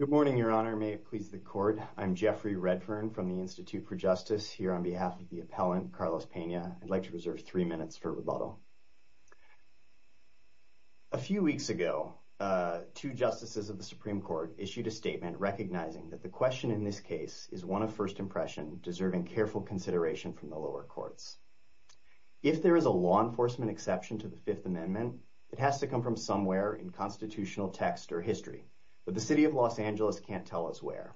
Good morning, Your Honor. May it please the Court, I'm Jeffrey Redfern from the Institute for Justice here on behalf of the appellant, Carlos Pena. I'd like to reserve three minutes for rebuttal. A few weeks ago, two justices of the Supreme Court issued a statement recognizing that the question in this case is one of first impression, deserving careful consideration from the lower courts. If there is a law enforcement exception to the Fifth Amendment, it has to come from somewhere in constitutional text or history, but the City of Los Angeles can't tell us where.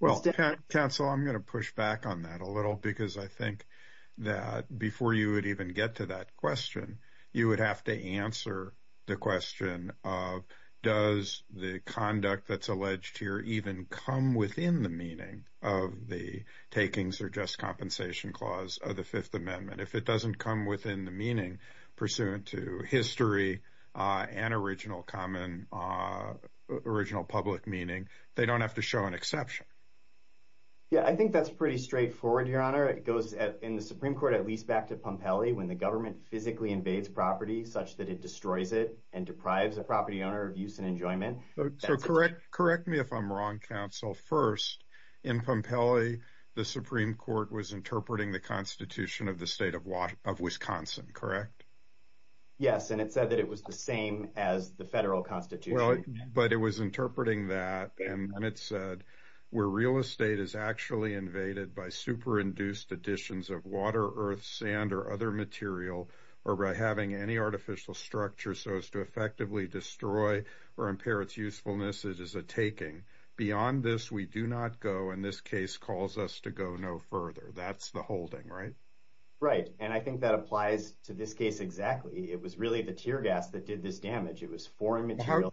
Well, counsel, I'm going to push back on that a little because I think that before you would even get to that question, you would have to answer the question of does the conduct that's alleged here even come within the meaning of the takings or just compensation clause of the Fifth Amendment? If it doesn't come within the meaning pursuant to history and original public meaning, they don't have to show an exception. Yeah, I think that's pretty straightforward, Your Honor. It goes in the Supreme Court at least back to Pompeli when the government physically invades property such that it destroys it and deprives a property owner of use and enjoyment. So correct me if I'm wrong, counsel. First, in Pompeli, the Supreme Court was interpreting the Constitution of the state of Wisconsin, correct? Yes, and it said that it was the same as the federal Constitution. But it was interpreting that and then it said, where real estate is actually invaded by super-induced additions of water, earth, sand, or other material, or by having any artificial structure so as to effectively destroy or impair its usefulness, it is a taking. Beyond this, we do not go, and this case calls us to go no further. That's the holding, right? Right, and I think that applies to this case exactly. It was really the tear gas that did this damage. It was foreign material.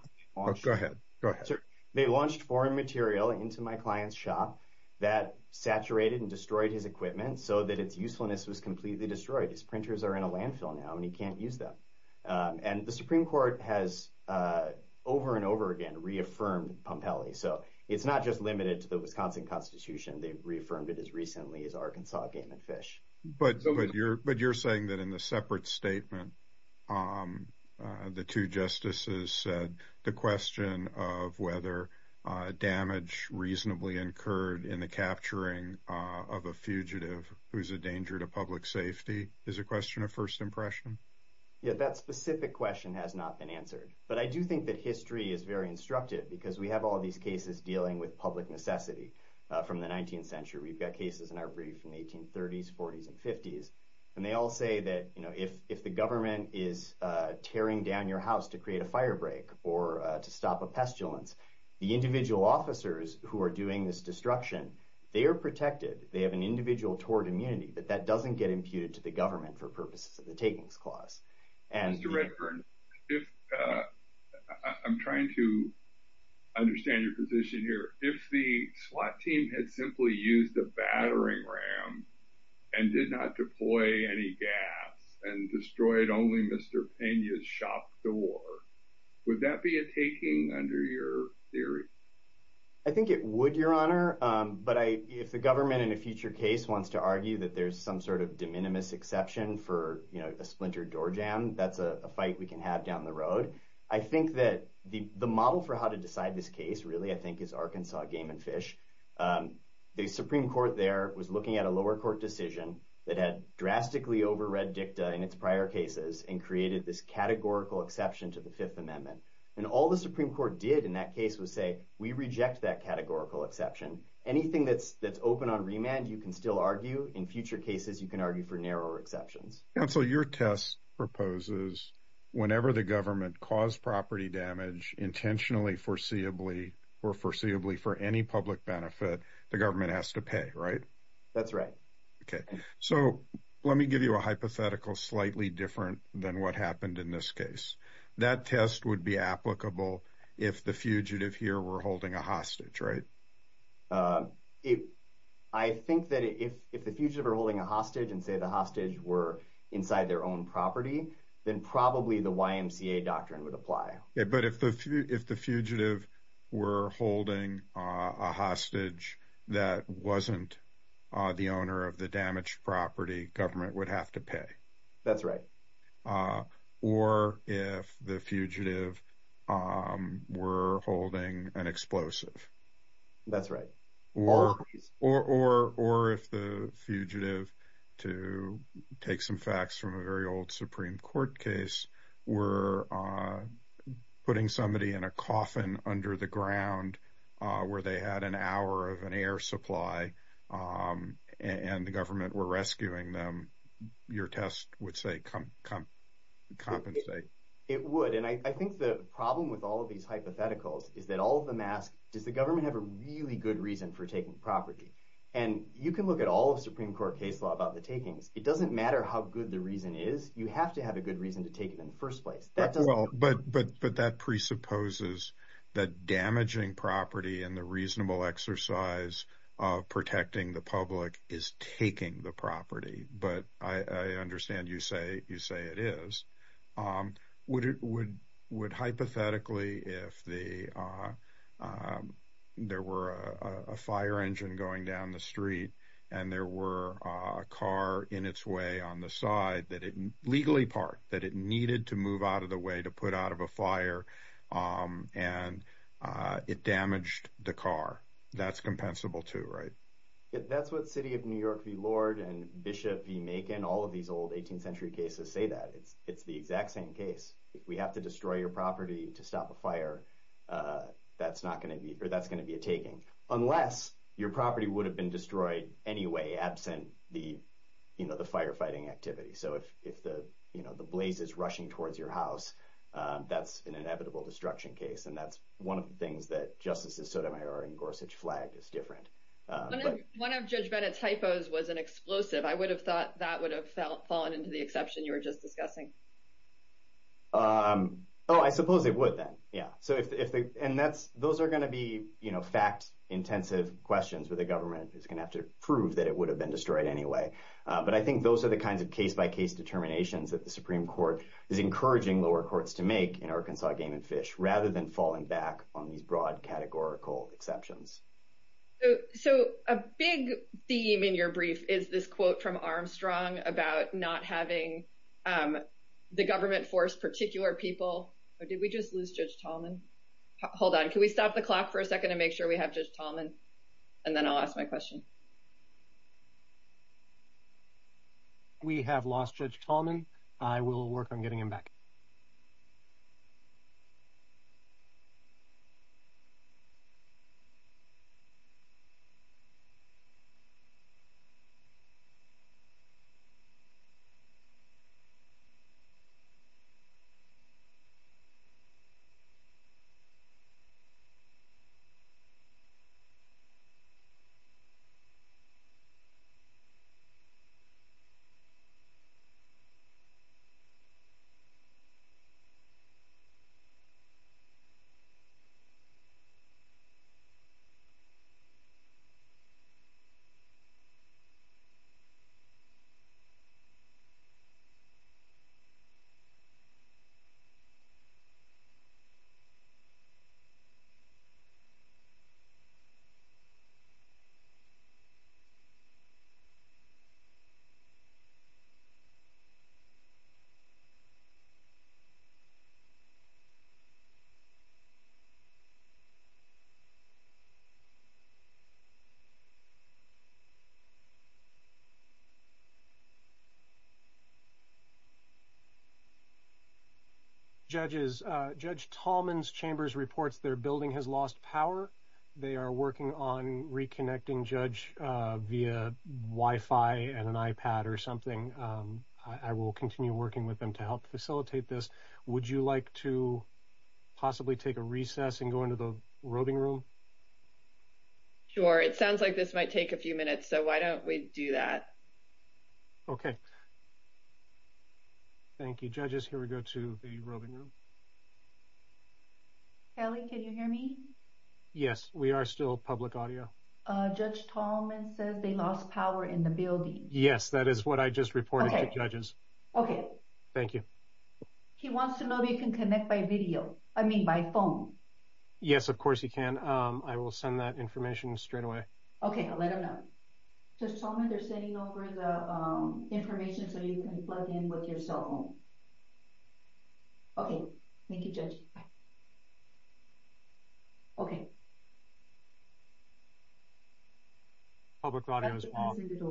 Go ahead. Go ahead. They launched foreign material into my client's shop that saturated and destroyed his equipment so that its usefulness was completely destroyed. His printers are in a landfill now and he can't use them. And the Supreme Court has over and over again reaffirmed Pompeli. So it's not just limited to the Wisconsin Constitution. They've reaffirmed it as recently as Arkansas Game and Fish. But you're saying that in the separate statement, the two justices said the question of whether damage reasonably incurred in the capturing of a fugitive who's a danger to public safety is a question of first impression? Yeah, that specific question has not been answered. But I do think that history is very instructive because we have all of these cases dealing with public necessity from the 19th century. We've got cases in our brief from the 1830s, 40s, and 50s. And they all say that if the government is tearing down your house to create a fire break or to stop a pestilence, the individual officers who are doing this destruction, they are protected. They have an individual tort immunity, but that doesn't get imputed to the takings clause. Mr. Redburn, I'm trying to understand your position here. If the SWAT team had simply used the battering ram and did not deploy any gas and destroyed only Mr. Pena's shop door, would that be a taking under your theory? I think it would, Your Honor. But if the government in a future case wants to argue that there's some sort of de minimis exception for a splinter door jam, that's a fight we can have down the road. I think that the model for how to decide this case really, I think, is Arkansas game and fish. The Supreme Court there was looking at a lower court decision that had drastically over read dicta in its prior cases and created this categorical exception to the Fifth Amendment. And all the Supreme Court did in that case was say, we reject that categorical exception. Anything that's open on remand, you can still argue. In future cases, you can argue for narrower exceptions. Counsel, your test proposes whenever the government caused property damage intentionally foreseeably or foreseeably for any public benefit, the government has to pay, right? That's right. Okay. So let me give you a hypothetical, slightly different than what happened in this case. That test would be applicable if the fugitive here were holding a hostage, right? I think that if the fugitive were holding a hostage and say the hostage were inside their own property, then probably the YMCA doctrine would apply. Yeah, but if the fugitive were holding a hostage that wasn't the owner of the damaged property, government would have to pay. That's right. Or if the fugitive were holding an explosive. That's right. Or if the fugitive, to take some facts from a very old Supreme Court case, were putting somebody in a coffin under the ground where they had an hour of an air supply and the government were rescuing them, your test would say compensate. It would. And I think the problem with all of these hypotheticals is that all of them ask, does the government have a really good reason for taking property? And you can look at all of Supreme Court case law about the takings. It doesn't matter how good the reason is. You have to have a good reason to take it in the first place. But that presupposes that damaging property and the reasonable exercise of protecting the public is taking the property. But I understand you say it is. Would hypothetically, if there were a fire engine going down the street and there were a car in its way on the side that it legally parked, that it needed to move out of the way to put out of a fire and it damaged the car, that's compensable too, right? That's what City of New York v. Lord and Bishop v. Macon, all of these old 18th century cases, say that. It's the exact same case. If we have to destroy your property to stop a fire, that's going to be a taking. Unless your property would have been destroyed anyway, absent the firefighting activity. So if the blaze is rushing towards your house, that's an inevitable destruction case. And that's one of the things that Justices Sotomayor and Gorsuch flagged is different. One of Judge Bennett's typos was an explosive. I would have thought that would have fallen into the exception you were just discussing. Oh, I suppose it would then. Yeah. And those are going to be fact-intensive questions where the government is going to prove that it would have been destroyed anyway. But I think those are the kinds of case-by-case determinations that the Supreme Court is encouraging lower courts to make in Arkansas game and fish rather than falling back on these broad categorical exceptions. So a big theme in your brief is this quote from Armstrong about not having the government force particular people. Did we just lose Judge Tallman? Hold on. Can we stop the clock for a second and make sure we have Judge Tallman? And then I'll ask my question. We have lost Judge Tallman. I will work on getting him back. Judges, Judge Tallman's chambers reports their building has lost power. They are working on reconnecting Judge via Wi-Fi and an iPad or something. I will continue working with them to help facilitate this. Would you like to possibly take a recess and go into the roving room? Sure. It sounds like this might take a few minutes, so why don't we do that? Okay. Thank you, judges. Here we go to the roving room. Kelly, can you hear me? Yes, we are still public audio. Judge Tallman says they lost power in the building. Yes, that is what I just reported to judges. Okay. Thank you. He wants to know if you can connect by video, I mean by phone. Yes, of course you can. I will send that information straight away. Okay, I'll let him know. Judge Tallman, they're sending over the information so you can plug in with your cell phone. Okay. Thank you, Judge. Okay. Okay. Okay.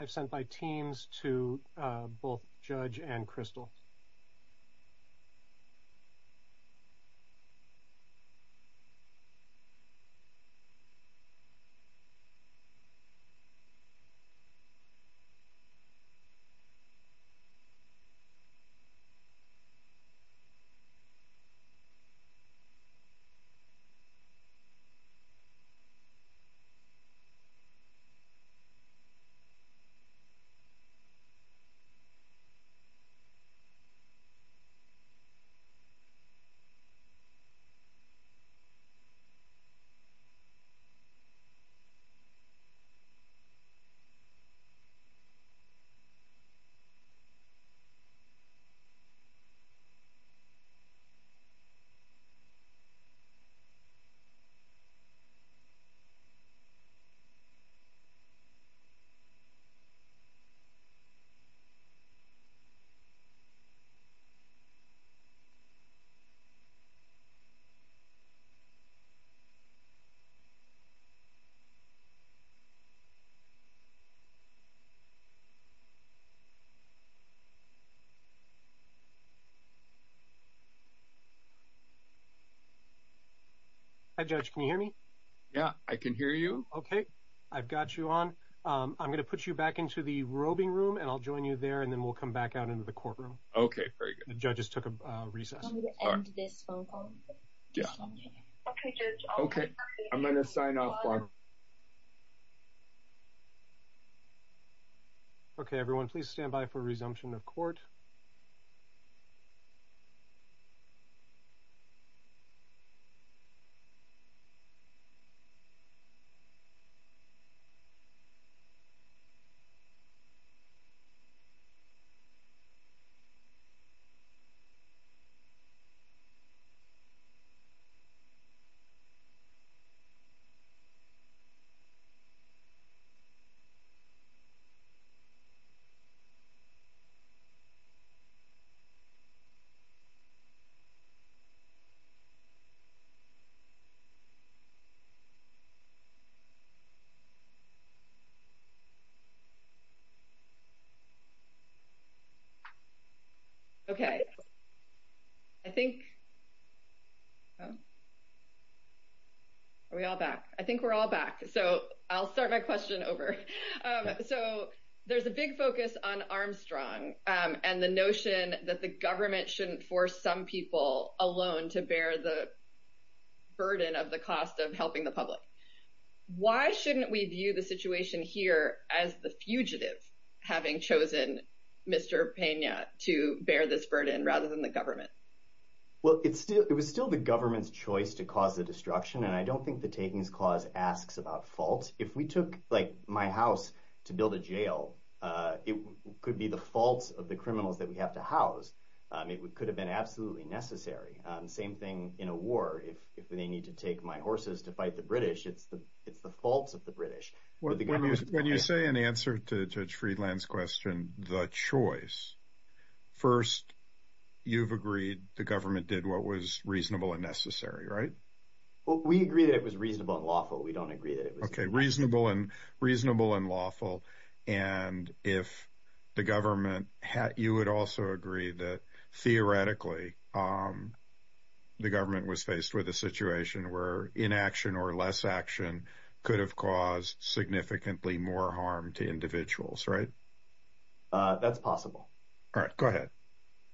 I've sent my teams to both Judge and Crystal. Okay. Okay. Okay. Hi, Judge, can you hear me? Yeah, I can hear you. Okay, I've got you on. I'm going to put you back into the roving room and I'll join you there and then we'll come back out into the courtroom. Okay, very good. The judges took a recess. I'm going to end this phone call. Yeah. Okay, Judge. Okay, I'm going to sign off. Okay, everyone, please stand by for resumption of court. Okay. Are we all back? I think we're all back. So I'll start my question over. So there's a big focus on Armstrong and the notion that the government shouldn't force some people alone to bear the burden of the cost of helping the public. Why shouldn't we view the situation here as the fugitive having chosen Mr. Pena to bear this burden rather than the government? Well, it was still the government's choice to cause the destruction and I don't think the takings clause asks about faults. If we took my house to build a jail, it could be the faults of the criminals that we have to house. It could have been absolutely necessary. Same thing in a war. If they need to take my horses to fight the British, it's the faults of the British. When you say in answer to Judge Friedland's question, the choice, first you've agreed the government did what was reasonable and necessary, right? Well, we agree that it was reasonable and lawful. We don't agree that it was- Okay, reasonable and lawful and if the government had, you would also agree that theoretically the government was faced with a situation where inaction or less action could have caused significantly more harm to individuals, right? That's possible. All right, go ahead.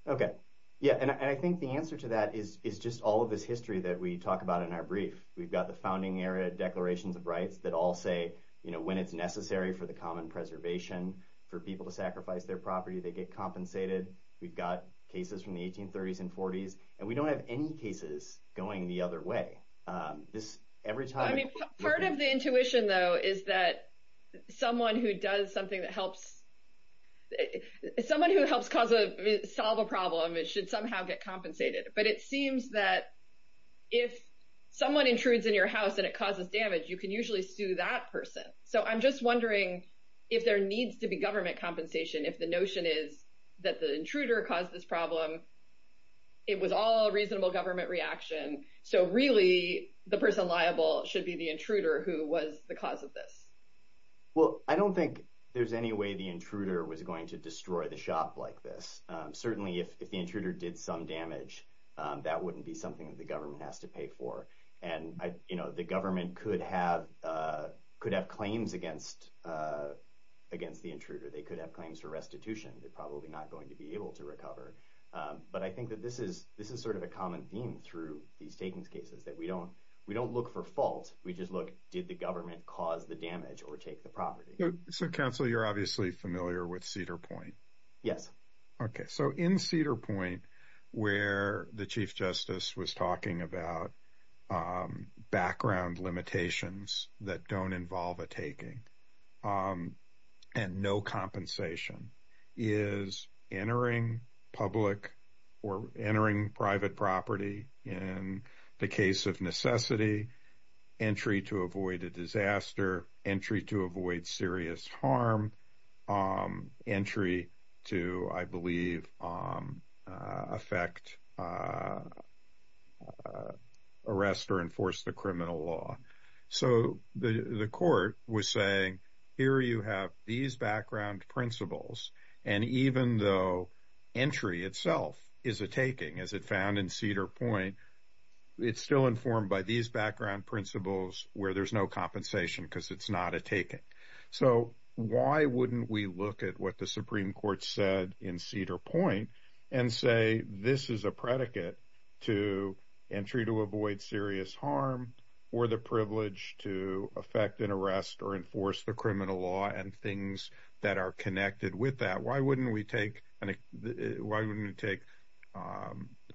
Okay, yeah, and I think the answer to that is just all of this history that we talk about in our brief. We've got the founding era declarations of rights that all say when it's necessary for the common preservation, for people to sacrifice their property, they get compensated. We've got cases from the 1830s and 40s, and we don't have any cases going the other way. This every time- I mean, part of the intuition though is that someone who does something that helps, someone who helps solve a problem, it should somehow get compensated. But it seems that if someone intrudes in your house and it causes damage, you can usually sue that person. So I'm just wondering if there needs to be government compensation, if the notion is that the intruder caused this problem, it was all a reasonable government reaction, so really the person liable should be the intruder who was the cause of this. Well, I don't think there's any way the intruder was going to destroy the shop like this. Certainly if the intruder did some damage, that wouldn't be something that the government has to could have claims against the intruder. They could have claims for restitution. They're probably not going to be able to recover. But I think that this is a common theme through these takings cases, that we don't look for fault. We just look, did the government cause the damage or take the property? So counsel, you're obviously familiar with Cedar Point. Yes. Okay. So in Cedar Point, where the Chief Justice was talking about background limitations that don't involve a taking and no compensation, is entering public or entering private property in the case of necessity, entry to avoid a disaster, entry to avoid serious harm, entry to, I believe, affect arrest or enforce the criminal law. So the court was saying, here you have these background principles, and even though entry itself is a taking, as it found in Cedar Point, it's still informed by these background principles where there's no compensation because it's not a taking. So why wouldn't we look at what the Supreme Court said in Cedar Point and say, this is a predicate to entry to avoid serious harm or the privilege to affect an arrest or enforce the criminal law and things that are connected with that? Why wouldn't we take why wouldn't we take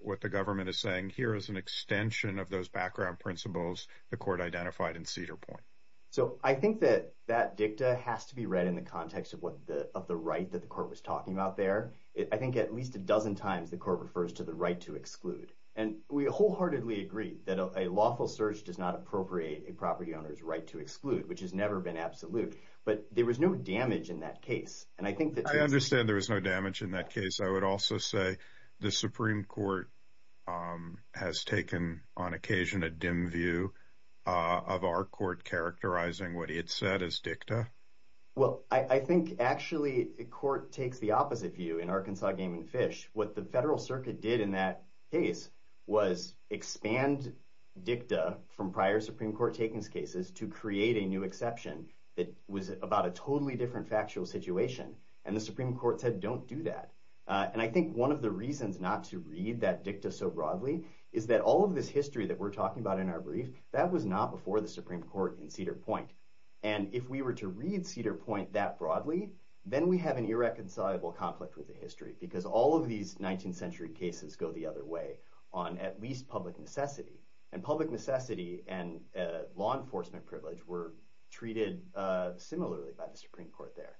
what the government is saying here as an extension of those background principles the court identified in Cedar Point? So I think that that dicta has to be read in the context of the right that the court was talking about there. I think at least a dozen times the court refers to the right to exclude. And we wholeheartedly agree that a lawful search does not appropriate a property owner's right to exclude, which has never been absolute, but there was no damage in that case. And I think that- I would also say the Supreme Court has taken on occasion a dim view of our court characterizing what he had said as dicta. Well, I think actually the court takes the opposite view in Arkansas Game and Fish. What the federal circuit did in that case was expand dicta from prior Supreme Court takings cases to create a new exception that was about a totally different factual situation. And the Supreme Court said, don't do that. And I think one of the reasons not to read that dicta so broadly is that all of this history that we're talking about in our brief, that was not before the Supreme Court in Cedar Point. And if we were to read Cedar Point that broadly, then we have an irreconcilable conflict with the history because all of these 19th century cases go the other way on at least public necessity. And public necessity and law enforcement privilege were treated similarly by the Supreme Court there.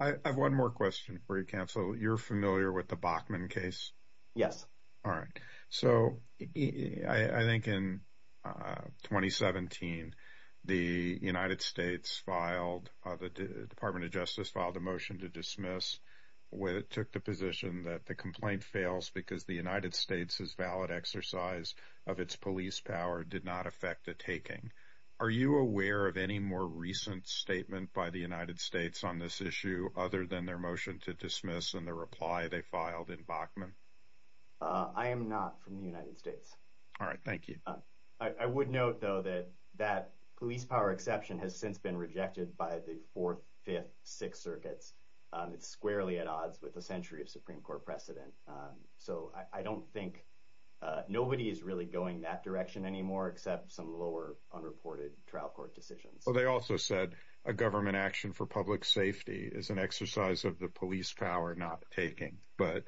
I have one more question for you, counsel. You're familiar with the Bachman case? Yes. All right. So I think in 2017, the United States filed- the Department of Justice filed a motion to dismiss when it took the position that the complaint fails because the United States' valid exercise of its police power did not affect the taking. Are you aware of any more recent statement by the United States on this issue other than their motion to dismiss and the reply they filed in Bachman? I am not from the United States. All right. Thank you. I would note though that that police power exception has since been rejected by the fourth, fifth, sixth circuits. It's squarely at odds with century of Supreme Court precedent. So I don't think nobody is really going that direction anymore except some lower unreported trial court decisions. Well, they also said a government action for public safety is an exercise of the police power not taking. But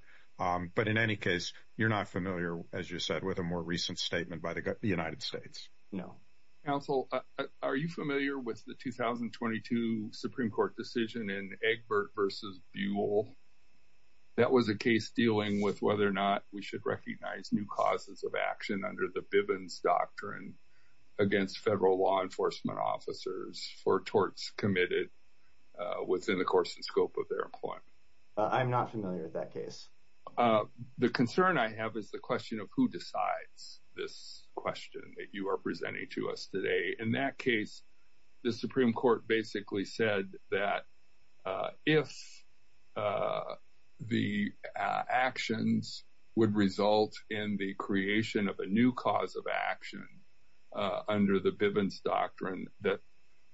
in any case, you're not familiar, as you said, with a more recent statement by the United States. No. Counsel, are you familiar with the 2022 Supreme Court decision in Egbert versus Buell? That was a case dealing with whether or not we should recognize new causes of action under the Bivens Doctrine against federal law enforcement officers for torts committed within the course and scope of their employment. I'm not familiar with that case. The concern I have is the question of who decides this question that you are presenting to us today. In that case, the Supreme Court basically said that if the actions would result in the creation of a new cause of action under the Bivens Doctrine, that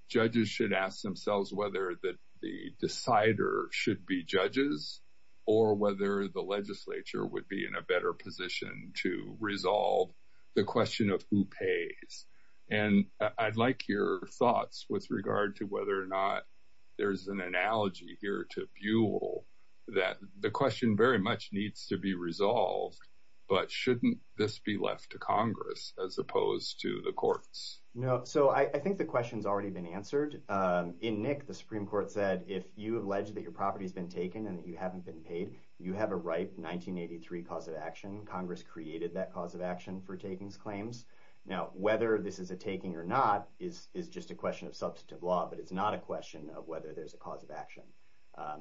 judges should ask themselves whether that the decider should be judges or whether the legislature would be in a better position to resolve the question of who And I'd like your thoughts with regard to whether or not there's an analogy here to Buell that the question very much needs to be resolved. But shouldn't this be left to Congress as opposed to the courts? No. So I think the question's already been answered. In Nick, the Supreme Court said, if you allege that your property has been taken and that you haven't been paid, you have a ripe 1983 cause of action. Congress created that for takings claims. Now, whether this is a taking or not is just a question of substantive law, but it's not a question of whether there's a cause of action.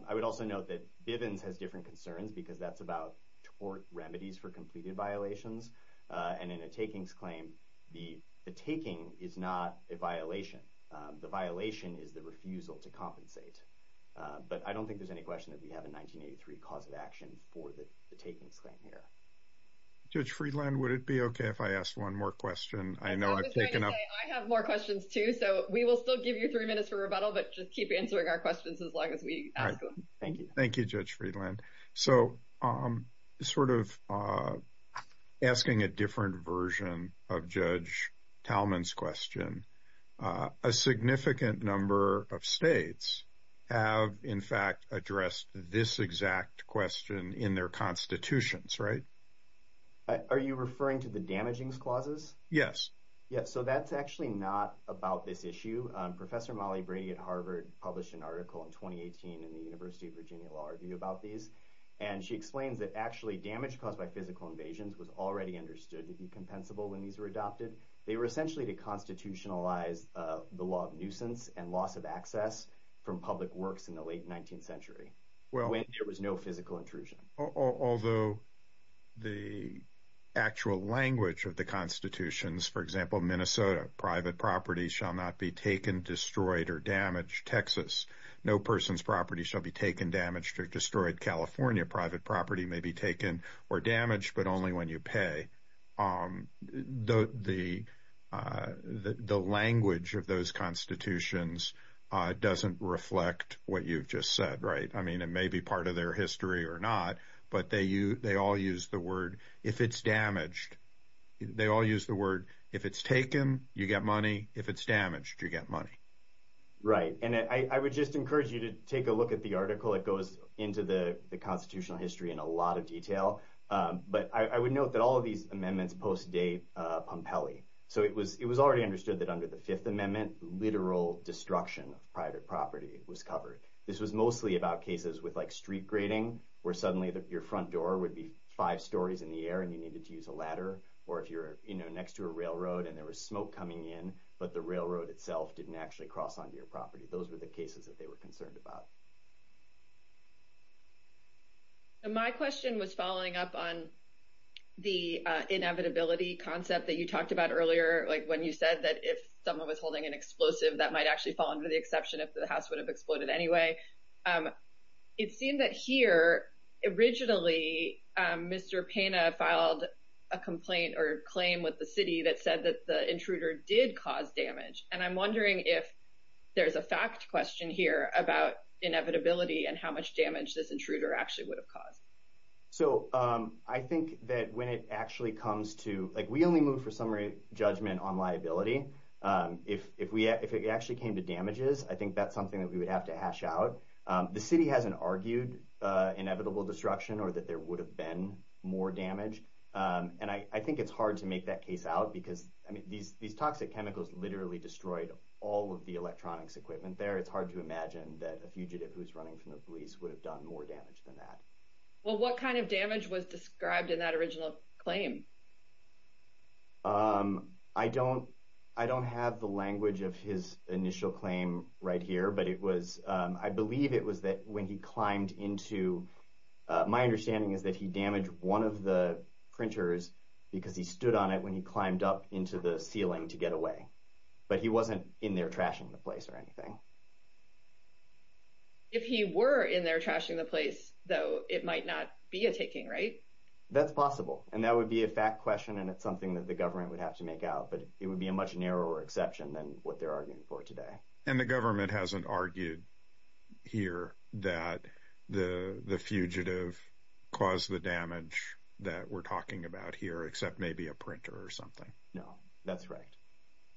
I would also note that Bivens has different concerns because that's about tort remedies for completed violations. And in a takings claim, the taking is not a violation. The violation is the refusal to compensate. But I don't think there's any question that we have a 1983 cause of action for the takings claim here. Judge Friedland, would it be okay if I asked one more question? I know I've taken up- I was going to say, I have more questions too. So we will still give you three minutes for rebuttal, but just keep answering our questions as long as we ask them. All right. Thank you. Thank you, Judge Friedland. So sort of asking a different version of Judge Talman's question, a significant number of states have in fact addressed this exact question in their constitutions, right? Are you referring to the damagings clauses? Yes. Yeah. So that's actually not about this issue. Professor Molly Brady at Harvard published an article in 2018 in the University of Virginia Law Review about these. And she explains that actually damage caused by physical invasions was already understood to be compensable when these were adopted. They were essentially to constitutionalize the law of nuisance and loss of access from public works in the late 19th century when there was no physical intrusion. Although the actual language of the constitutions, for example, Minnesota, private property shall not be taken, destroyed, or damaged. Texas, no person's property shall be taken, damaged, or destroyed. California, private property may be taken or damaged, but only when you pay. So the language of those constitutions doesn't reflect what you've just said, right? I mean, it may be part of their history or not, but they all use the word, if it's damaged, they all use the word, if it's taken, you get money. If it's damaged, you get money. Right. And I would just encourage you to take a look at the article that goes into the constitutional history in a lot of detail. But I would note that all of these amendments post-date Pompeli. So it was already understood that under the Fifth Amendment, literal destruction of private property was covered. This was mostly about cases with street grading, where suddenly your front door would be five stories in the air and you needed to use a ladder, or if you're next to a railroad and there was smoke coming in, but the railroad itself didn't actually cross onto your property. Those were the cases that they were concerned about. My question was following up on the inevitability concept that you talked about earlier, like when you said that if someone was holding an explosive, that might actually fall under the exception if the house would have exploded anyway. It seemed that here, originally, Mr. Pena filed a complaint or claim with the city that said that the intruder did cause damage. And I'm wondering if there's a fact question here about inevitability and how much damage this intruder actually would have caused. So I think that when it actually comes to, like we only move for summary judgment on liability. If it actually came to damages, I think that's something that we would have to hash out. The city hasn't argued inevitable destruction or that there would have been more damage. And I think it's hard to make that case out because these toxic chemicals literally destroyed all of the electronics equipment there. It's hard to imagine that a fugitive who's running from the police would have done more damage than that. Well, what kind of damage was described in that original claim? I don't have the language of his initial claim right here, but I believe it was that when he climbed into... My understanding is that he damaged one of the printers because he stood on it when he climbed up into the ceiling to get away, but he wasn't in there trashing the place or anything. If he were in there trashing the place though, it might not be a taking, right? That's possible. And that would be a fact question. And it's something that the government would have to make out, but it would be a much narrower exception than what they're arguing for today. And the government hasn't argued here that the fugitive caused the damage that we're talking about here, except maybe a printer or something. No, that's right.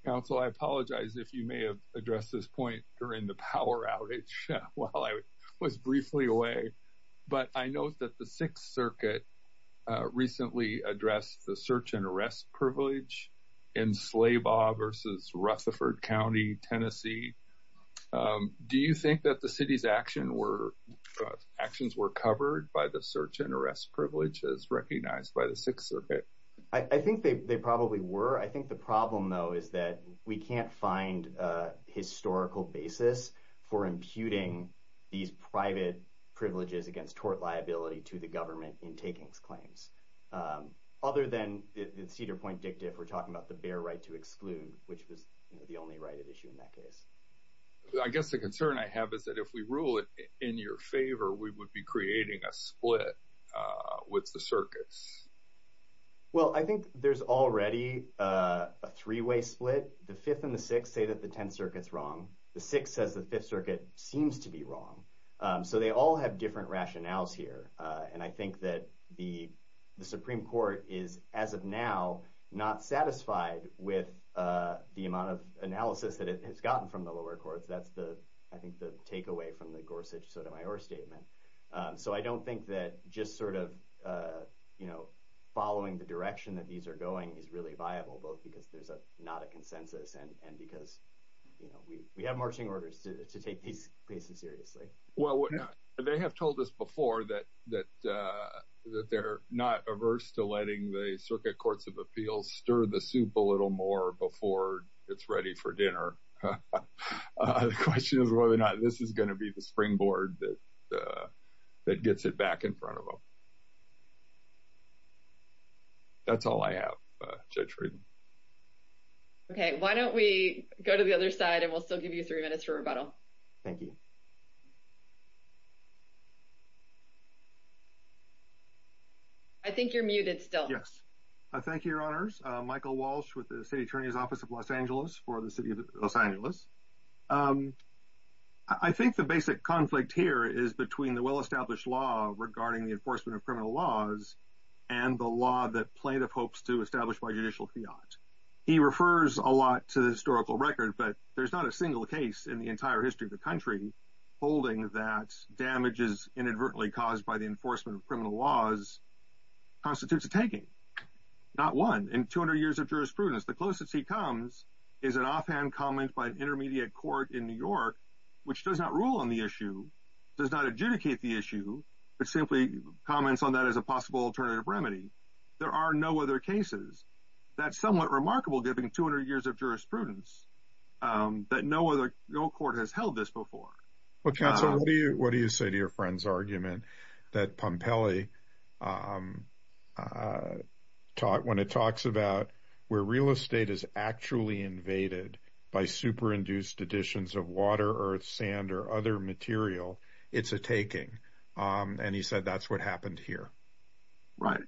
Counsel, I apologize if you may have addressed this point during the power outage while I was briefly away. But I know that the Sixth Circuit recently addressed the search and arrest privilege in Slabaw versus Rutherford County, Tennessee. Do you think that the city's actions were covered by the search and arrest privileges recognized by the Sixth Circuit? I think they probably were. I think the problem though is that we can't find a historical basis for imputing these private privileges against tort liability to the government in taking these claims. Other than the Cedar Point dicta, if we're talking about the bare right to exclude, which was the only right at issue in that case. I guess the concern I have is that if we rule it in your favor, we would be creating a split with the circuits. Well, I think there's already a three-way split. The Fifth and the Sixth say that the Tenth Circuit's wrong. The Sixth says the Fifth Circuit seems to be wrong. So they all have different rationales here. And I think that the Supreme Court is, as of now, not satisfied with the amount of analysis that it has gotten from the lower courts. That's, I think, the takeaway from the Gorsuch-Sotomayor statement. So I don't think that just following the direction that these are going is really viable, both because there's not a consensus and because we have marching orders to take these cases seriously. Well, they have told us before that they're not averse to letting the Circuit Courts of Appeals stir the soup a little more before it's ready for dinner. The question is whether or not this is going to be the springboard that gets it back in front of them. That's all I have, Judge Frieden. Okay. Why don't we go to the other side and we'll still give you three minutes for rebuttal. Thank you. I think you're muted still. Yes. Thank you, Your Honors. Michael Walsh with the Los Angeles. I think the basic conflict here is between the well-established law regarding the enforcement of criminal laws and the law that plaintiff hopes to establish by judicial fiat. He refers a lot to the historical record, but there's not a single case in the entire history of the country holding that damages inadvertently caused by the enforcement of criminal laws constitutes a taking. Not one. In 200 years of jurisprudence, the closest he comes is an offhand comment by an intermediate court in New York, which does not rule on the issue, does not adjudicate the issue, but simply comments on that as a possible alternative remedy. There are no other cases. That's somewhat remarkable given 200 years of jurisprudence that no court has held this before. Council, what do you say to your friend's argument that Pompeii, when it talks about where real estate is actually invaded by super-induced additions of water, earth, sand, or other material, it's a taking? He said that's what happened here. Right.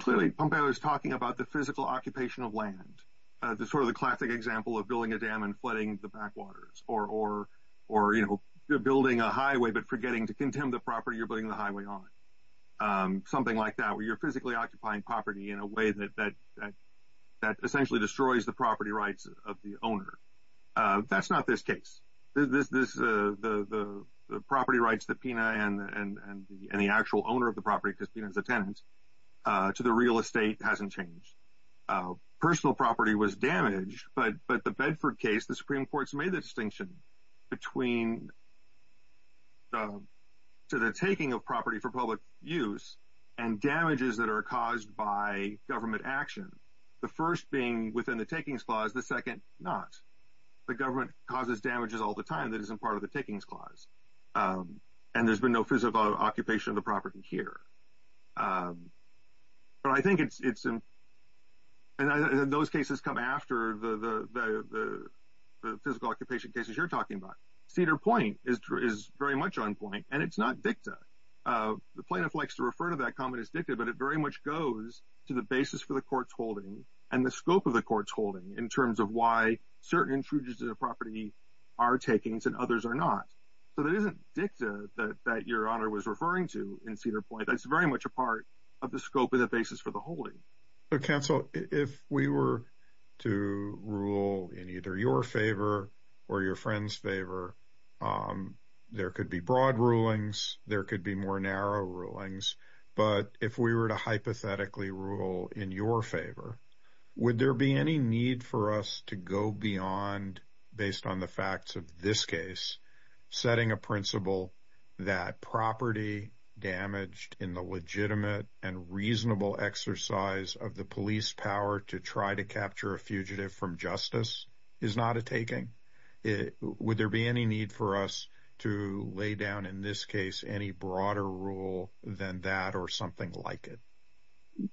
Clearly, Pompeii was talking about the physical occupation of land, the classic example of building a dam and flooding the backwaters, or building a highway, but forgetting to condemn the property you're building the highway on. Something like that, where you're physically occupying property in a way that essentially destroys the property rights of the owner. That's not this case. The property rights that Pena and the actual owner of the property, because Pena is a tenant, to the real estate hasn't changed. Personal property was damaged, but the Bedford case, the Supreme Court's made the distinction between the taking of property for public use and damages that are caused by government action. The first being within the takings clause, the second not. The government causes damages all the time that isn't part of the takings clause, and there's been no physical occupation of the property here. But I think it's important, and those cases come after the physical occupation cases you're talking about. Cedar Point is very much on point, and it's not dicta. The plaintiff likes to refer to that comment as dicta, but it very much goes to the basis for the court's holding and the scope of the court's holding in terms of why certain intruders in a property are takings and others are not. So that isn't dicta that your honor was referring to in Cedar Point. That's very much a of the scope of the basis for the holding. Counsel, if we were to rule in either your favor or your friend's favor, there could be broad rulings, there could be more narrow rulings, but if we were to hypothetically rule in your favor, would there be any need for us to go beyond based on the facts of this case, setting a principle that property damaged in the legitimate and reasonable exercise of the police power to try to capture a fugitive from justice is not a taking? Would there be any need for us to lay down in this case any broader rule than that or something like it?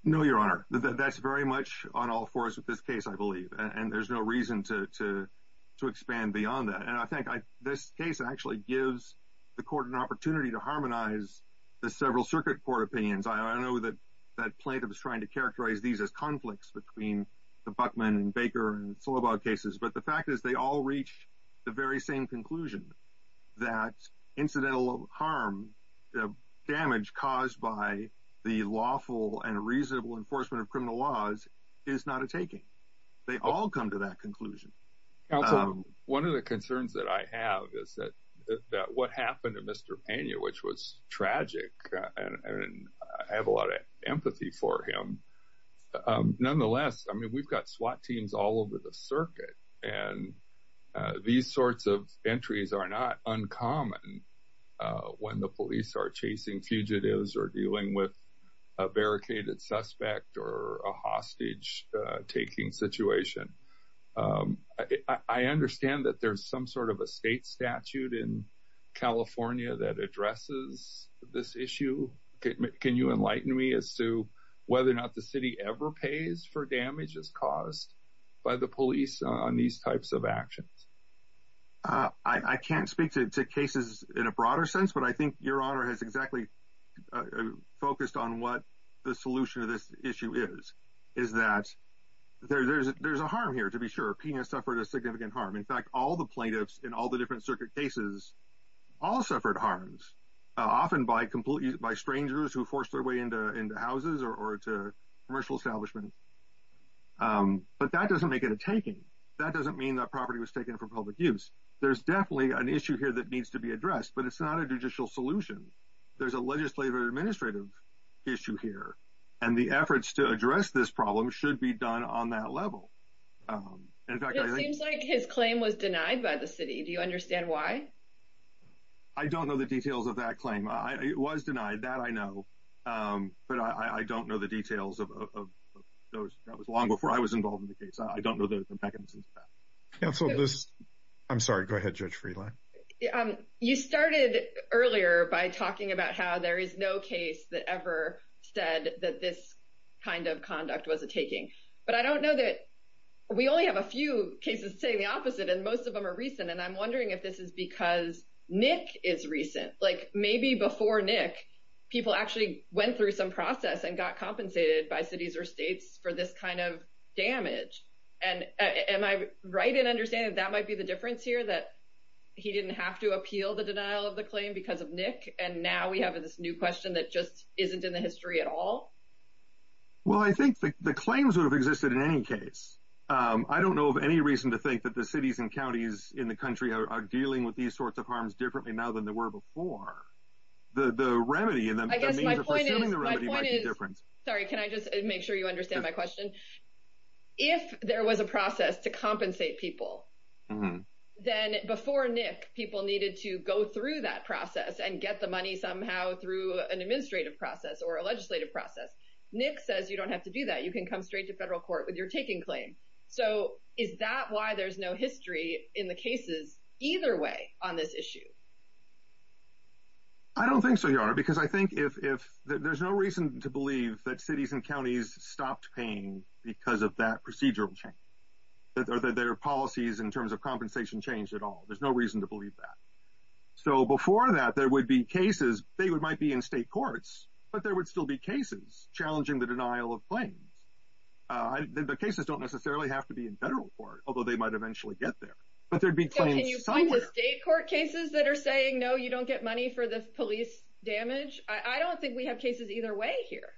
No, your honor. That's very much on all fours with this case, I believe, and there's no reason to expand beyond that. And I think this case actually gives the court an opportunity to harmonize the several circuit court opinions. I know that that plaintiff is trying to characterize these as conflicts between the Buckman and Baker and Slobog cases, but the fact is they all reach the very same conclusion that incidental harm, damage caused by the lawful and reasonable enforcement of criminal laws is not a taking. They all come to that conclusion. Counselor, one of the concerns that I have is that what happened to Mr. Pena, which was tragic, and I have a lot of empathy for him, nonetheless, I mean, we've got SWAT teams all over the circuit, and these sorts of entries are not uncommon when the police are chasing fugitives or dealing with a barricaded suspect or a hostage-taking situation. I understand that there's some sort of a state statute in California that addresses this issue. Can you enlighten me as to whether or not the city ever pays for damages caused by the police on these types of actions? I can't speak to cases in a broader sense, but I think Your Honor has exactly focused on what the solution to this issue is, is that there's a harm here, to be sure. Pena suffered a significant harm. In fact, all the plaintiffs in all the different circuit cases all suffered harms, often by strangers who forced their way into houses or to commercial establishments, but that doesn't make it a taking. That doesn't mean that property was public use. There's definitely an issue here that needs to be addressed, but it's not a judicial solution. There's a legislative or administrative issue here, and the efforts to address this problem should be done on that level. It seems like his claim was denied by the city. Do you understand why? I don't know the details of that claim. It was denied, that I know, but I don't know the details of those. That was long before I was involved in the case. I don't know the mechanisms of that. I'm sorry, go ahead, Judge Friedland. You started earlier by talking about how there is no case that ever said that this kind of conduct was a taking, but I don't know that. We only have a few cases saying the opposite, and most of them are recent, and I'm wondering if this is because Nick is recent, like maybe before Nick, people actually went through some process and got compensated by cities or states for this kind of damage. Am I right in understanding that that might be the difference here, that he didn't have to appeal the denial of the claim because of Nick, and now we have this new question that just isn't in the history at all? Well, I think the claims would have existed in any case. I don't know of any reason to think that the cities and counties in the country are dealing with these sorts of harms differently now than they were before. The remedy in that case might be different. Sorry, can I just make sure you understand my question? If there was a process to compensate people, then before Nick, people needed to go through that process and get the money somehow through an administrative process or a legislative process. Nick says you don't have to do that. You can come straight to federal court with your taking claim. So is that why there's no history in the cases either way on this issue? I don't think so, Your Honor, because I think if there's no reason to believe that cities and counties stopped paying because of that procedural change, that their policies in terms of compensation changed at all. There's no reason to believe that. So before that, there would be cases, they might be in state courts, but there would still be cases challenging the denial of claims. The cases don't necessarily have to be in federal court, although they might eventually get there. But there'd be claims somewhere. Can you find the state court cases that are saying, no, you don't get money for the police damage? I don't think we have cases either way here.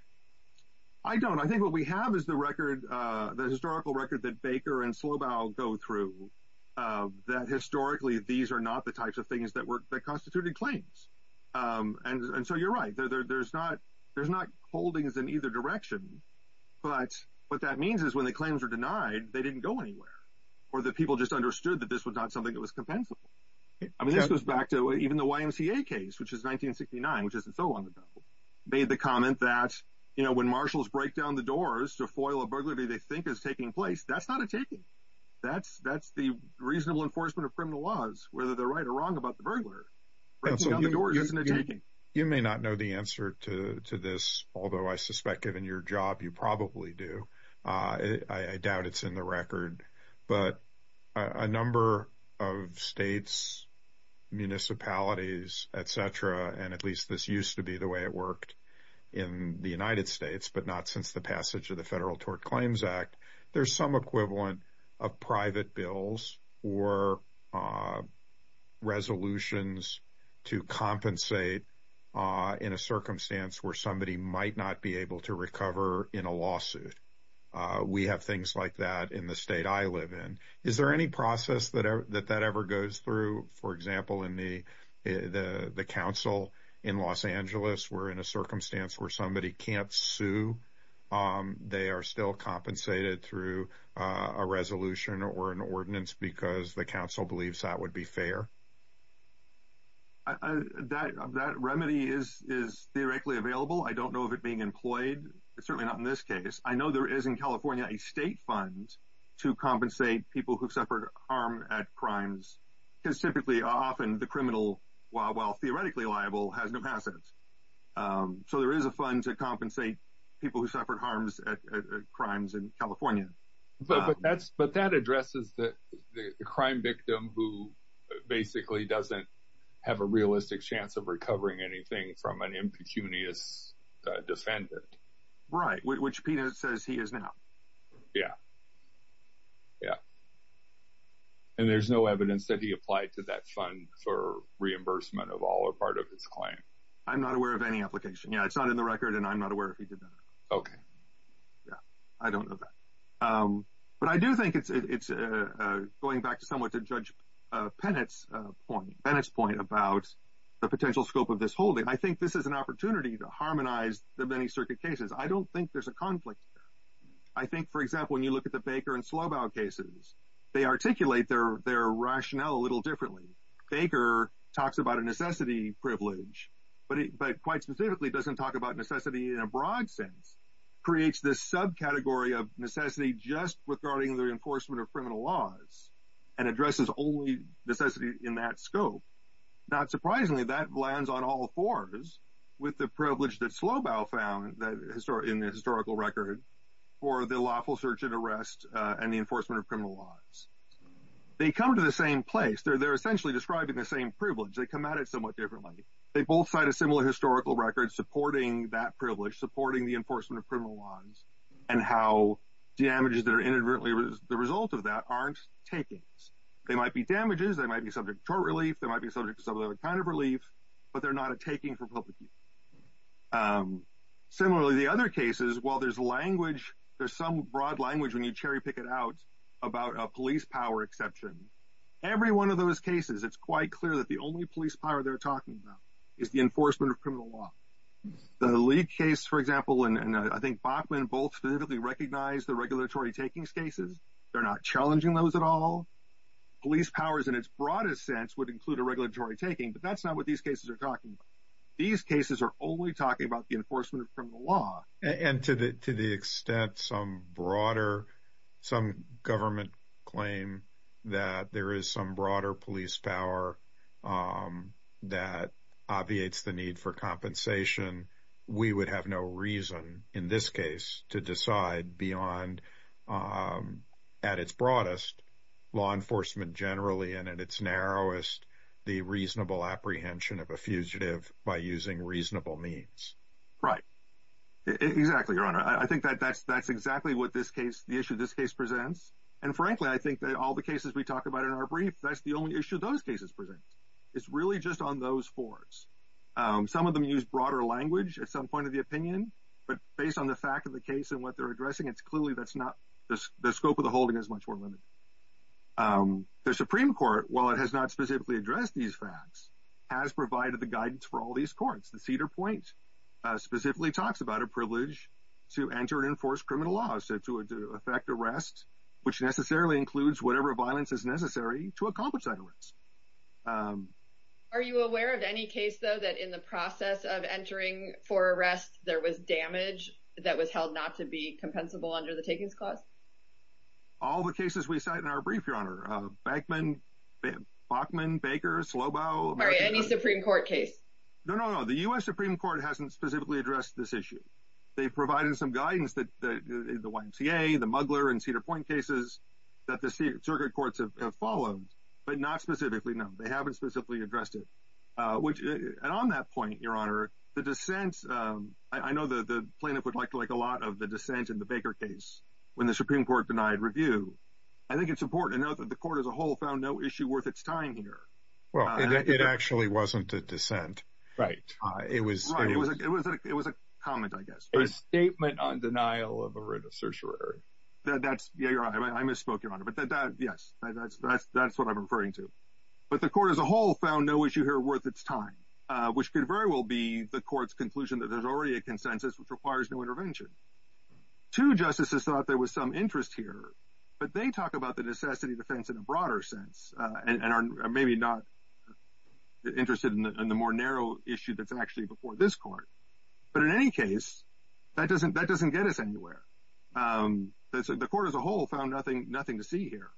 I don't. I think what we have is the historical record that Baker and Slobaugh go through, that historically, these are not the types of things that constituted claims. And so you're right. There's not holdings in either direction. But what that means is when claims are denied, they didn't go anywhere or that people just understood that this was not something that was compensable. I mean, this goes back to even the YMCA case, which is 1969, which isn't so long ago, made the comment that, you know, when marshals break down the doors to foil a burglary they think is taking place, that's not a taking. That's that's the reasonable enforcement of criminal laws, whether they're right or wrong about the burglar. You may not know the answer to this, although I suspect given your job, you probably do. I doubt it's in the record. But a number of states, municipalities, et cetera, and at least this used to be the way it worked in the United States, but not since the passage of the Federal Tort Claims Act. There's some equivalent of private bills or resolutions to compensate in a circumstance where somebody might not be able to recover in a lawsuit. We have things like that in the state I live in. Is there any process that that ever goes through? For example, in the council in Los Angeles, even if somebody does not sue, they are still compensated through a resolution or an ordinance because the council believes that would be fair? That remedy is theoretically available. I don't know of it being employed, certainly not in this case. I know there is in California a state fund to compensate people who suffer harm at crimes, because typically often the criminal, while theoretically liable, has no assets. So there is a fund to compensate people who suffered harms at crimes in California. But that addresses the crime victim who basically doesn't have a realistic chance of recovering anything from an impecunious defendant. Right, which Peter says he is now. Yeah. And there's no evidence that he applied to that fund for reimbursement of all or part of his claim. I'm not aware of any application. Yeah, it's not in the record and I'm not aware if he did that. Okay. Yeah, I don't know that. But I do think it's going back somewhat to Judge Pennett's point about the potential scope of this holding. I think this is an opportunity to harmonize the many circuit cases. I don't think there's a conflict here. I think, for example, when you look at the Baker and Slobaugh cases, they articulate their rationale a little differently. Baker talks about a necessity privilege, but quite specifically doesn't talk about necessity in a broad sense, creates this subcategory of necessity just regarding the enforcement of criminal laws and addresses only necessity in that scope. Not surprisingly, that lands on all fours with the privilege that Slobaugh found in the historical record for the lawful search and arrest and the the same privilege. They come at it somewhat differently. They both cite a similar historical record supporting that privilege, supporting the enforcement of criminal laws and how damages that are inadvertently the result of that aren't takings. They might be damages, they might be subject to tort relief, they might be subject to some other kind of relief, but they're not a taking for public use. Similarly, the other cases, while there's language, there's some broad language when you cherry pick it out about a police power exception, every one of those cases, it's quite clear that the only police power they're talking about is the enforcement of criminal law. The Lee case, for example, and I think Bachman both vividly recognize the regulatory takings cases. They're not challenging those at all. Police powers in its broadest sense would include a regulatory taking, but that's not what these cases are talking about. These cases are only talking about the enforcement of criminal law. And to the extent some broader, some government claim that there is some broader police power that obviates the need for compensation, we would have no reason in this case to decide beyond at its broadest, law enforcement generally, and at its narrowest, the reasonable apprehension of a fugitive by using reasonable means. Right. Exactly, Your Honor. I think that's exactly what the issue this case presents. And frankly, I think that all the cases we talk about in our brief, that's the only issue those cases present. It's really just on those fours. Some of them use broader language at some point of the opinion, but based on the fact of the case and what they're addressing, it's clearly that's not the scope of the holding is much more limited. The Supreme Court, while it has not specifically addressed these facts, has provided the guidance for all these courts. The Cedar Point specifically talks about a privilege to enter and enforce criminal laws to affect arrest, which necessarily includes whatever violence is necessary to accomplish that arrest. Are you aware of any case, though, that in the process of entering for arrest, there was damage that was held not to be compensable under the Takings Clause? All the cases we cite in our brief, Your Honor. Backman, Bachman, Baker, Slobo. All right. Any Supreme Court case? No, no, no. The U.S. Supreme Court hasn't specifically addressed this issue. They provided some guidance that the YMCA, the Mugler and Cedar Point cases that the circuit courts have followed, but not specifically. No, they haven't specifically addressed it. And on that point, Your Honor, the dissent, I know that the plaintiff would like a lot of the dissent in the Baker case when the Supreme Court denied review. I think it's important to note that the court as a whole found no issue worth its time here. Well, it actually wasn't a dissent. Right. It was a comment, I guess. A statement on denial of a writ of certiorari. That's, yeah, you're right. I misspoke, Your Honor. But that, yes, that's what I'm referring to. But the court as a whole found no issue here worth its time, which could very well be the court's conclusion that there's already a consensus which requires no intervention. Two justices thought there was some interest here, but they talk about the necessity defense in a broader sense and are maybe not interested in the more narrow issue that's actually before this court. But in any case, that doesn't that doesn't get us anywhere. The court as a whole found nothing, nothing to see here.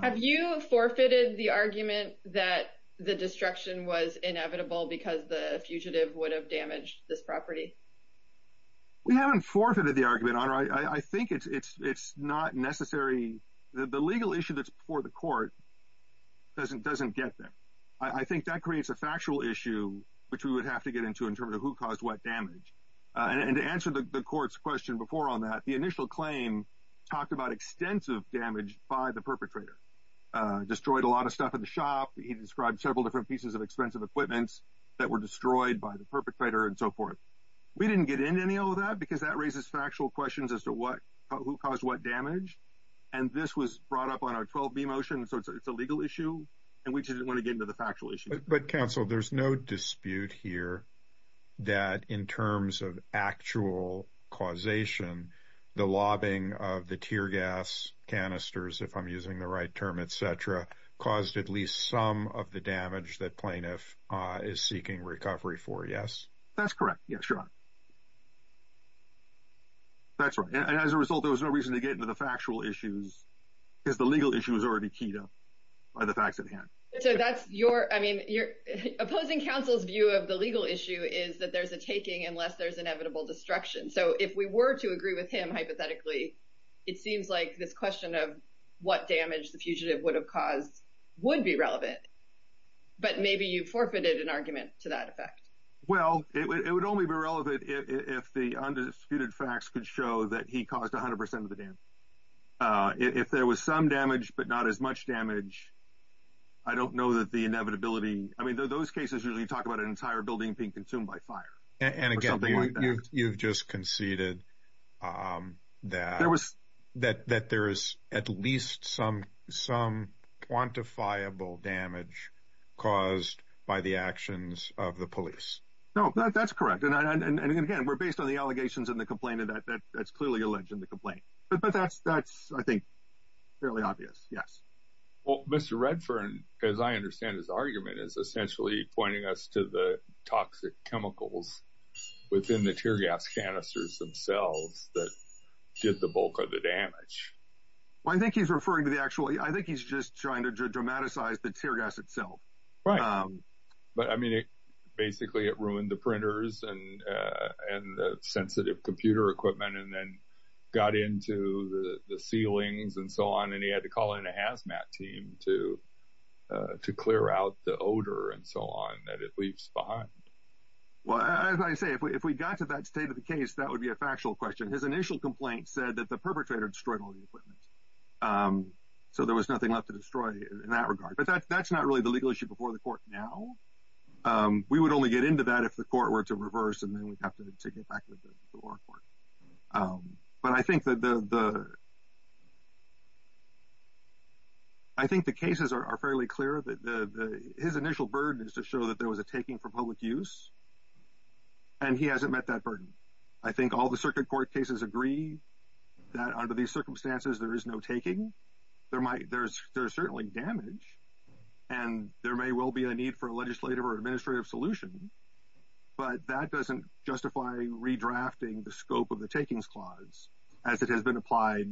Have you forfeited the argument that the destruction was inevitable because the fugitive would have damaged this property? We haven't forfeited the argument, Your Honor. I think it's not necessary. The legal issue that's before the court doesn't doesn't get there. I think that creates a factual issue which we would have to get into in terms of who caused what damage. And to answer the court's question before on that, the initial claim talked about extensive damage by the perpetrator, destroyed a lot of shop. He described several different pieces of expensive equipments that were destroyed by the perpetrator and so forth. We didn't get into any of that because that raises factual questions as to what who caused what damage. And this was brought up on our 12b motion. So it's a legal issue. And we didn't want to get into the factual issue. But counsel, there's no dispute here that in terms of actual causation, the lobbying of the tear gas canisters, if I'm using the right term, et cetera, caused at least some of the damage that plaintiff is seeking recovery for. Yes, that's correct. Yes, sure. That's right. And as a result, there was no reason to get into the factual issues because the legal issue is already keyed up by the facts at hand. So that's your I mean, your opposing counsel's view of the legal issue is that there's a taking unless there's inevitable destruction. So if we were to agree with him, hypothetically, it seems like this question of what damage the fugitive would have caused would be relevant. But maybe you forfeited an argument to that effect. Well, it would only be relevant if the undisputed facts could show that he caused 100 percent of the damage. If there was some damage, but not as much damage. I don't know that the inevitability I mean, those cases really talk about an entire building being consumed by fire. And again, you've just conceded that there was that that there is at least some some quantifiable damage caused by the actions of the police. No, that's correct. And again, we're based on the allegations in the complaint that that's clearly alleged in the complaint. But that's that's, I think, fairly obvious. Yes. Well, Mr. Redfern, as I understand his argument is essentially pointing us to the chemicals within the tear gas canisters themselves that did the bulk of the damage. Well, I think he's referring to the actual I think he's just trying to dramatize the tear gas itself. Right. But I mean, basically, it ruined the printers and and the sensitive computer equipment and then got into the ceilings and so on. And he had to call in a hazmat team to to clear out the odor and so on that it leaves behind. Well, as I say, if we if we got to that state of the case, that would be a factual question. His initial complaint said that the perpetrator destroyed all the equipment. So there was nothing left to destroy in that regard. But that's not really the legal issue before the court. Now, we would only get into that if the court were to reverse and then we'd take it back to the court. But I think that the. I think the cases are fairly clear that his initial burden is to show that there was a taking for public use. And he hasn't met that burden. I think all the circuit court cases agree that under these circumstances, there is no taking there might there's there's certainly damage and there may well be a need for a legislative or administrative solution. But that doesn't justify redrafting the scope of the takings clause as it has been applied.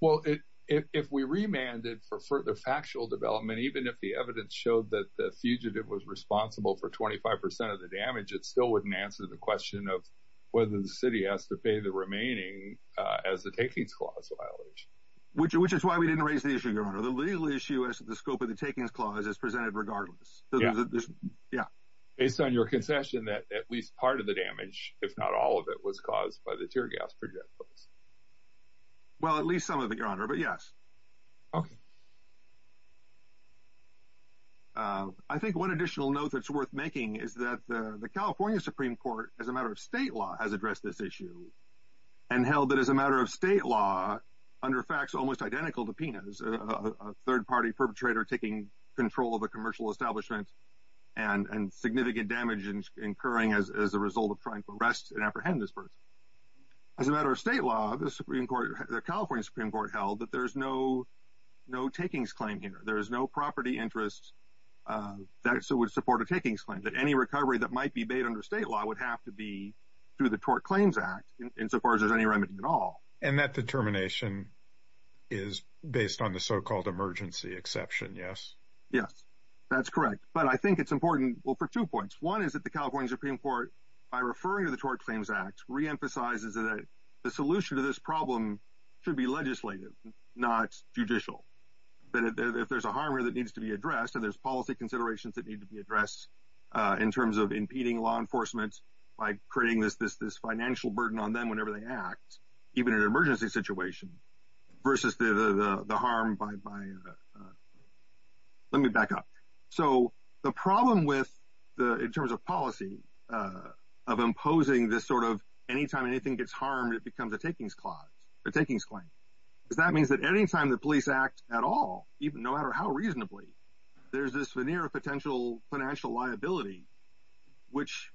Well, if we remanded for further factual development, even if the evidence showed that the fugitive was responsible for 25 percent of the damage, it still wouldn't answer the question of whether the city has to pay the remaining as the takings clause violation, which which is why we didn't raise the issue. The legal issue is the scope of takings clause is presented regardless. Yeah, based on your concession that at least part of the damage, if not all of it was caused by the tear gas project. Well, at least some of it, Your Honor. But yes. OK. I think one additional note that's worth making is that the California Supreme Court, as a matter of state law, has addressed this issue and held that as a matter of state law, under facts almost identical to Pena's third party perpetrator taking control of a commercial establishment and significant damage incurring as a result of trying to arrest and apprehend this person. As a matter of state law, the Supreme Court, the California Supreme Court held that there is no no takings claim here. There is no property interest that would support a takings claim that any recovery that might be made under state law would have to be through the Tort Claims Act insofar as there's any remedy at all. And that determination is based on the so-called emergency exception. Yes. Yes, that's correct. But I think it's important for two points. One is that the California Supreme Court, by referring to the Tort Claims Act, reemphasizes that the solution to this problem should be legislative, not judicial, that if there's a harm that needs to be addressed and there's policy considerations that need to be addressed in terms of impeding law enforcement by creating this financial burden on them whenever they act, even in an emergency situation, versus the harm by... Let me back up. So the problem with, in terms of policy, of imposing this sort of anytime anything gets harmed it becomes a takings clause, a takings claim. Because that means that anytime the police act at all, even no matter how reasonably, there's this veneer of potential financial liability which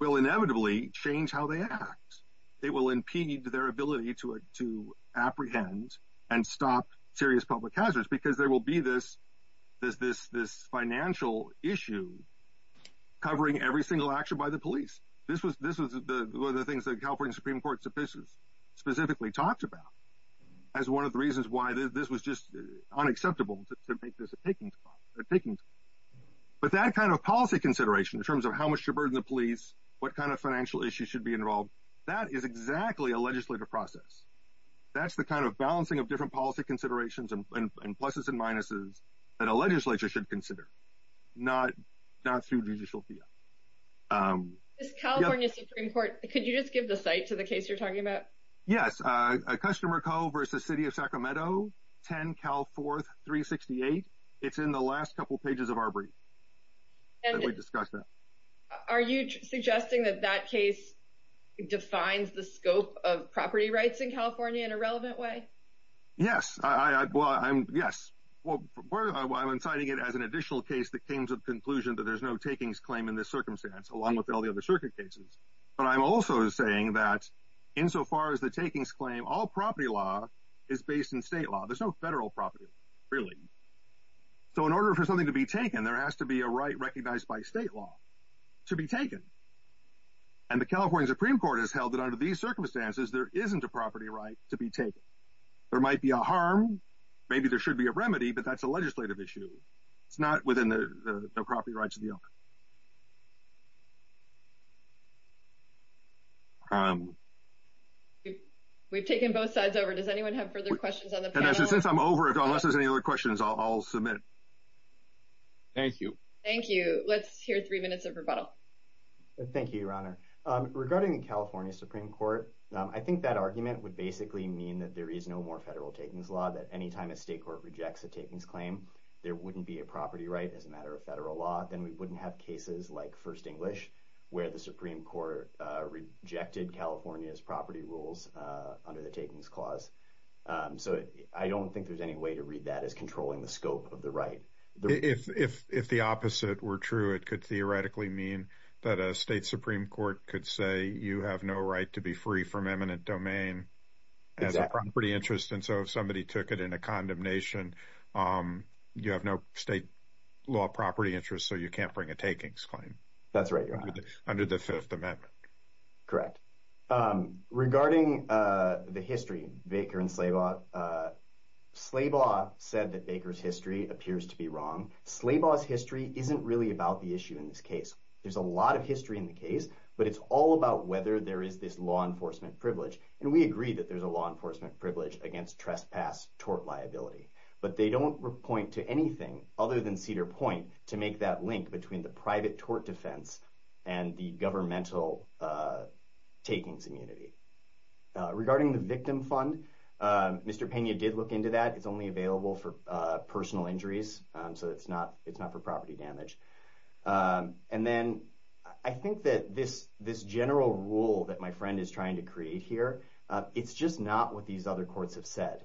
will inevitably change how they act. It will impede their ability to apprehend and stop serious public hazards because there will be this financial issue covering every single action by the police. This was one of the things the California Supreme Court's offices specifically talked about as one of the reasons why this was just unacceptable to make this a takings clause, a takings clause. But that kind of policy consideration in terms of how much to burden the police, what kind of financial issues should be involved, that is exactly a legislative process. That's the kind of balancing of different policy considerations and pluses and minuses that a legislature should consider, not through judicial fiat. This California Supreme Court, could you just give the site to the case you're talking about? Yes, Customer Co. v. City of Sacramento, 10 Cal 4368. It's in the last couple pages of our brief. Are you suggesting that that case defines the scope of property rights in California in a relevant way? Yes, well I'm inciting it as an additional case that came to the conclusion that there's no takings claim in this circumstance, along with all the other circuit cases. But I'm also saying that in so far as the takings claim, all property law is based in state law. There's no federal property, really. So in order for something to be taken, there has to be a right recognized by state law to be taken. And the California Supreme Court has held that under these circumstances, there isn't a property right to be taken. There might be a harm, maybe there should be a remedy, but that's a legislative issue. It's not within the property rights of the owner. We've taken both sides over. Does anyone have further questions on the panel? Since I'm over, unless there's any other questions, I'll submit. Thank you. Thank you. Let's hear three minutes of rebuttal. Thank you, Your Honor. Regarding the California Supreme Court, I think that argument would basically mean that there is no more federal takings law, that anytime a state court rejects a takings claim, there wouldn't be a property right as a matter of federal law. Then we wouldn't have cases like First English, where the Supreme Court rejected California's property rules under the takings clause. So I don't think there's any way to read that as controlling the scope of the right. If the opposite were true, it could theoretically mean that a state Supreme Court could say you have no right to be free from eminent domain as a property interest. And so somebody took it in a condemnation, you have no state law property interest, so you can't bring a takings claim. That's right, Your Honor. Under the Fifth Amendment. Correct. Regarding the history, Baker and Slabaugh, Slabaugh said that Baker's history appears to be wrong. Slabaugh's history isn't really about the issue in this case. There's a lot of history in the case, but it's all about whether there is this law enforcement privilege. And we agree that there's a law enforcement privilege against trespass tort liability, but they don't point to anything other than Cedar Point to make that link between the private tort defense and the governmental takings immunity. Regarding the victim fund, Mr. Pena did look into that. It's only available for personal injuries, so it's not for property damage. And then I think that this general rule that my friend is trying to create here, it's just not what these other courts have said.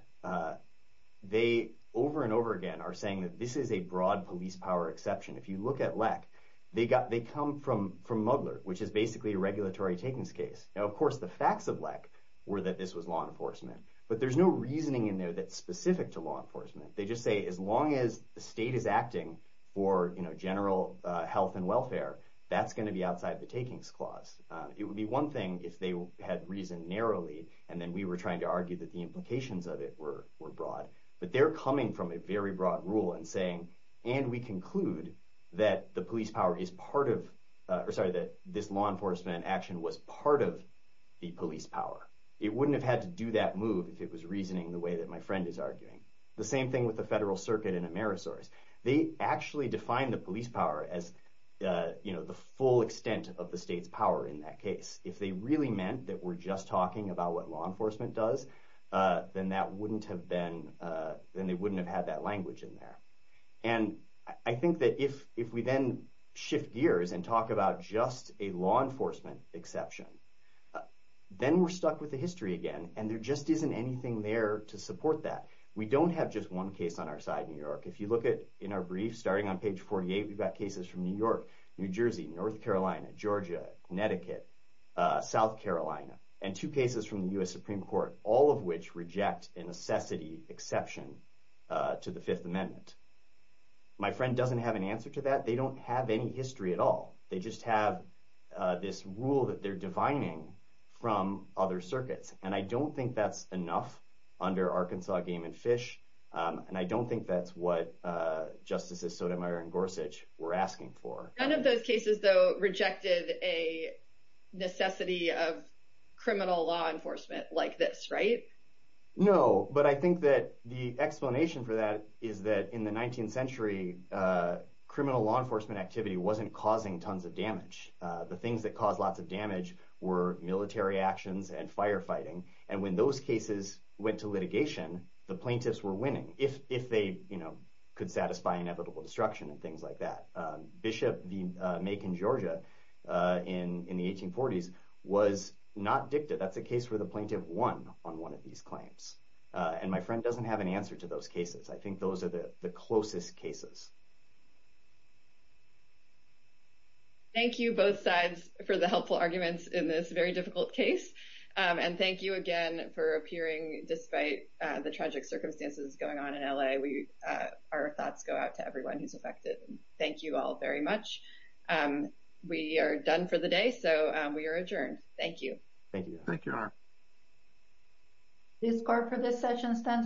They over and over again are saying that this is a broad police power exception. If you look at LEC, they come from Mugler, which is basically a regulatory takings case. Now, of course, the facts of LEC were that this was law enforcement, but there's no reasoning in there that's specific to law enforcement. They just say as long as the state is acting for general health and welfare, that's going to be outside the takings clause. It would be one thing if they had reasoned narrowly, and then we were trying to argue that the implications of it were broad. But they're coming from a very broad rule and saying, and we conclude that the police power is part of, or sorry, that this law enforcement action was part of the police power. It wouldn't have had to do that move if it was reasoning the way that my friend is arguing. The same thing with the federal circuit in Amerisource. They actually define the police power as the full extent of the state's power in that case. If they really meant that we're just talking about what law enforcement does, then they wouldn't have had that language in there. And I think that if we then shift gears and talk about just a law enforcement exception, then we're stuck with the history again, and there just isn't anything there to support that. We don't have just one case on our side in New York. If you look at, in our brief, starting on page 48, we've got cases from New York, New Jersey, North Carolina, Georgia, Connecticut, South Carolina, and two cases from the U.S. Supreme Court, all of which reject a necessity exception to the Fifth Amendment. My friend doesn't have an answer to that. They don't have any history at all. They just have this rule that they're defining from other circuits, and I don't think that's enough under Arkansas Game and Fish, and I don't think that's what Justices Sotomayor and Gorsuch were asking for. None of those cases, though, rejected a necessity of criminal law enforcement like this, right? No, but I think that the explanation for that is that in the 19th century, criminal law enforcement activity wasn't causing tons of damage. The things that caused lots of damage were military actions and firefighting, and when those cases went to litigation, the plaintiffs were winning, if they could satisfy inevitable destruction and things like that. Bishop v. Macon, Georgia, in the 1840s, was not dicta. That's a case where the plaintiff won on one of these claims, and my friend doesn't have an answer to those cases. I think those are the closest cases. Thank you, both sides, for the helpful arguments in this very difficult case, and thank you again for appearing despite the tragic circumstances going on in L.A. Our thoughts go out to everyone who's affected. Thank you all very much. We are done for the day, so we are adjourned. Thank you. Thank you. Thank you, Aaron. The discord for this session stands adjourned.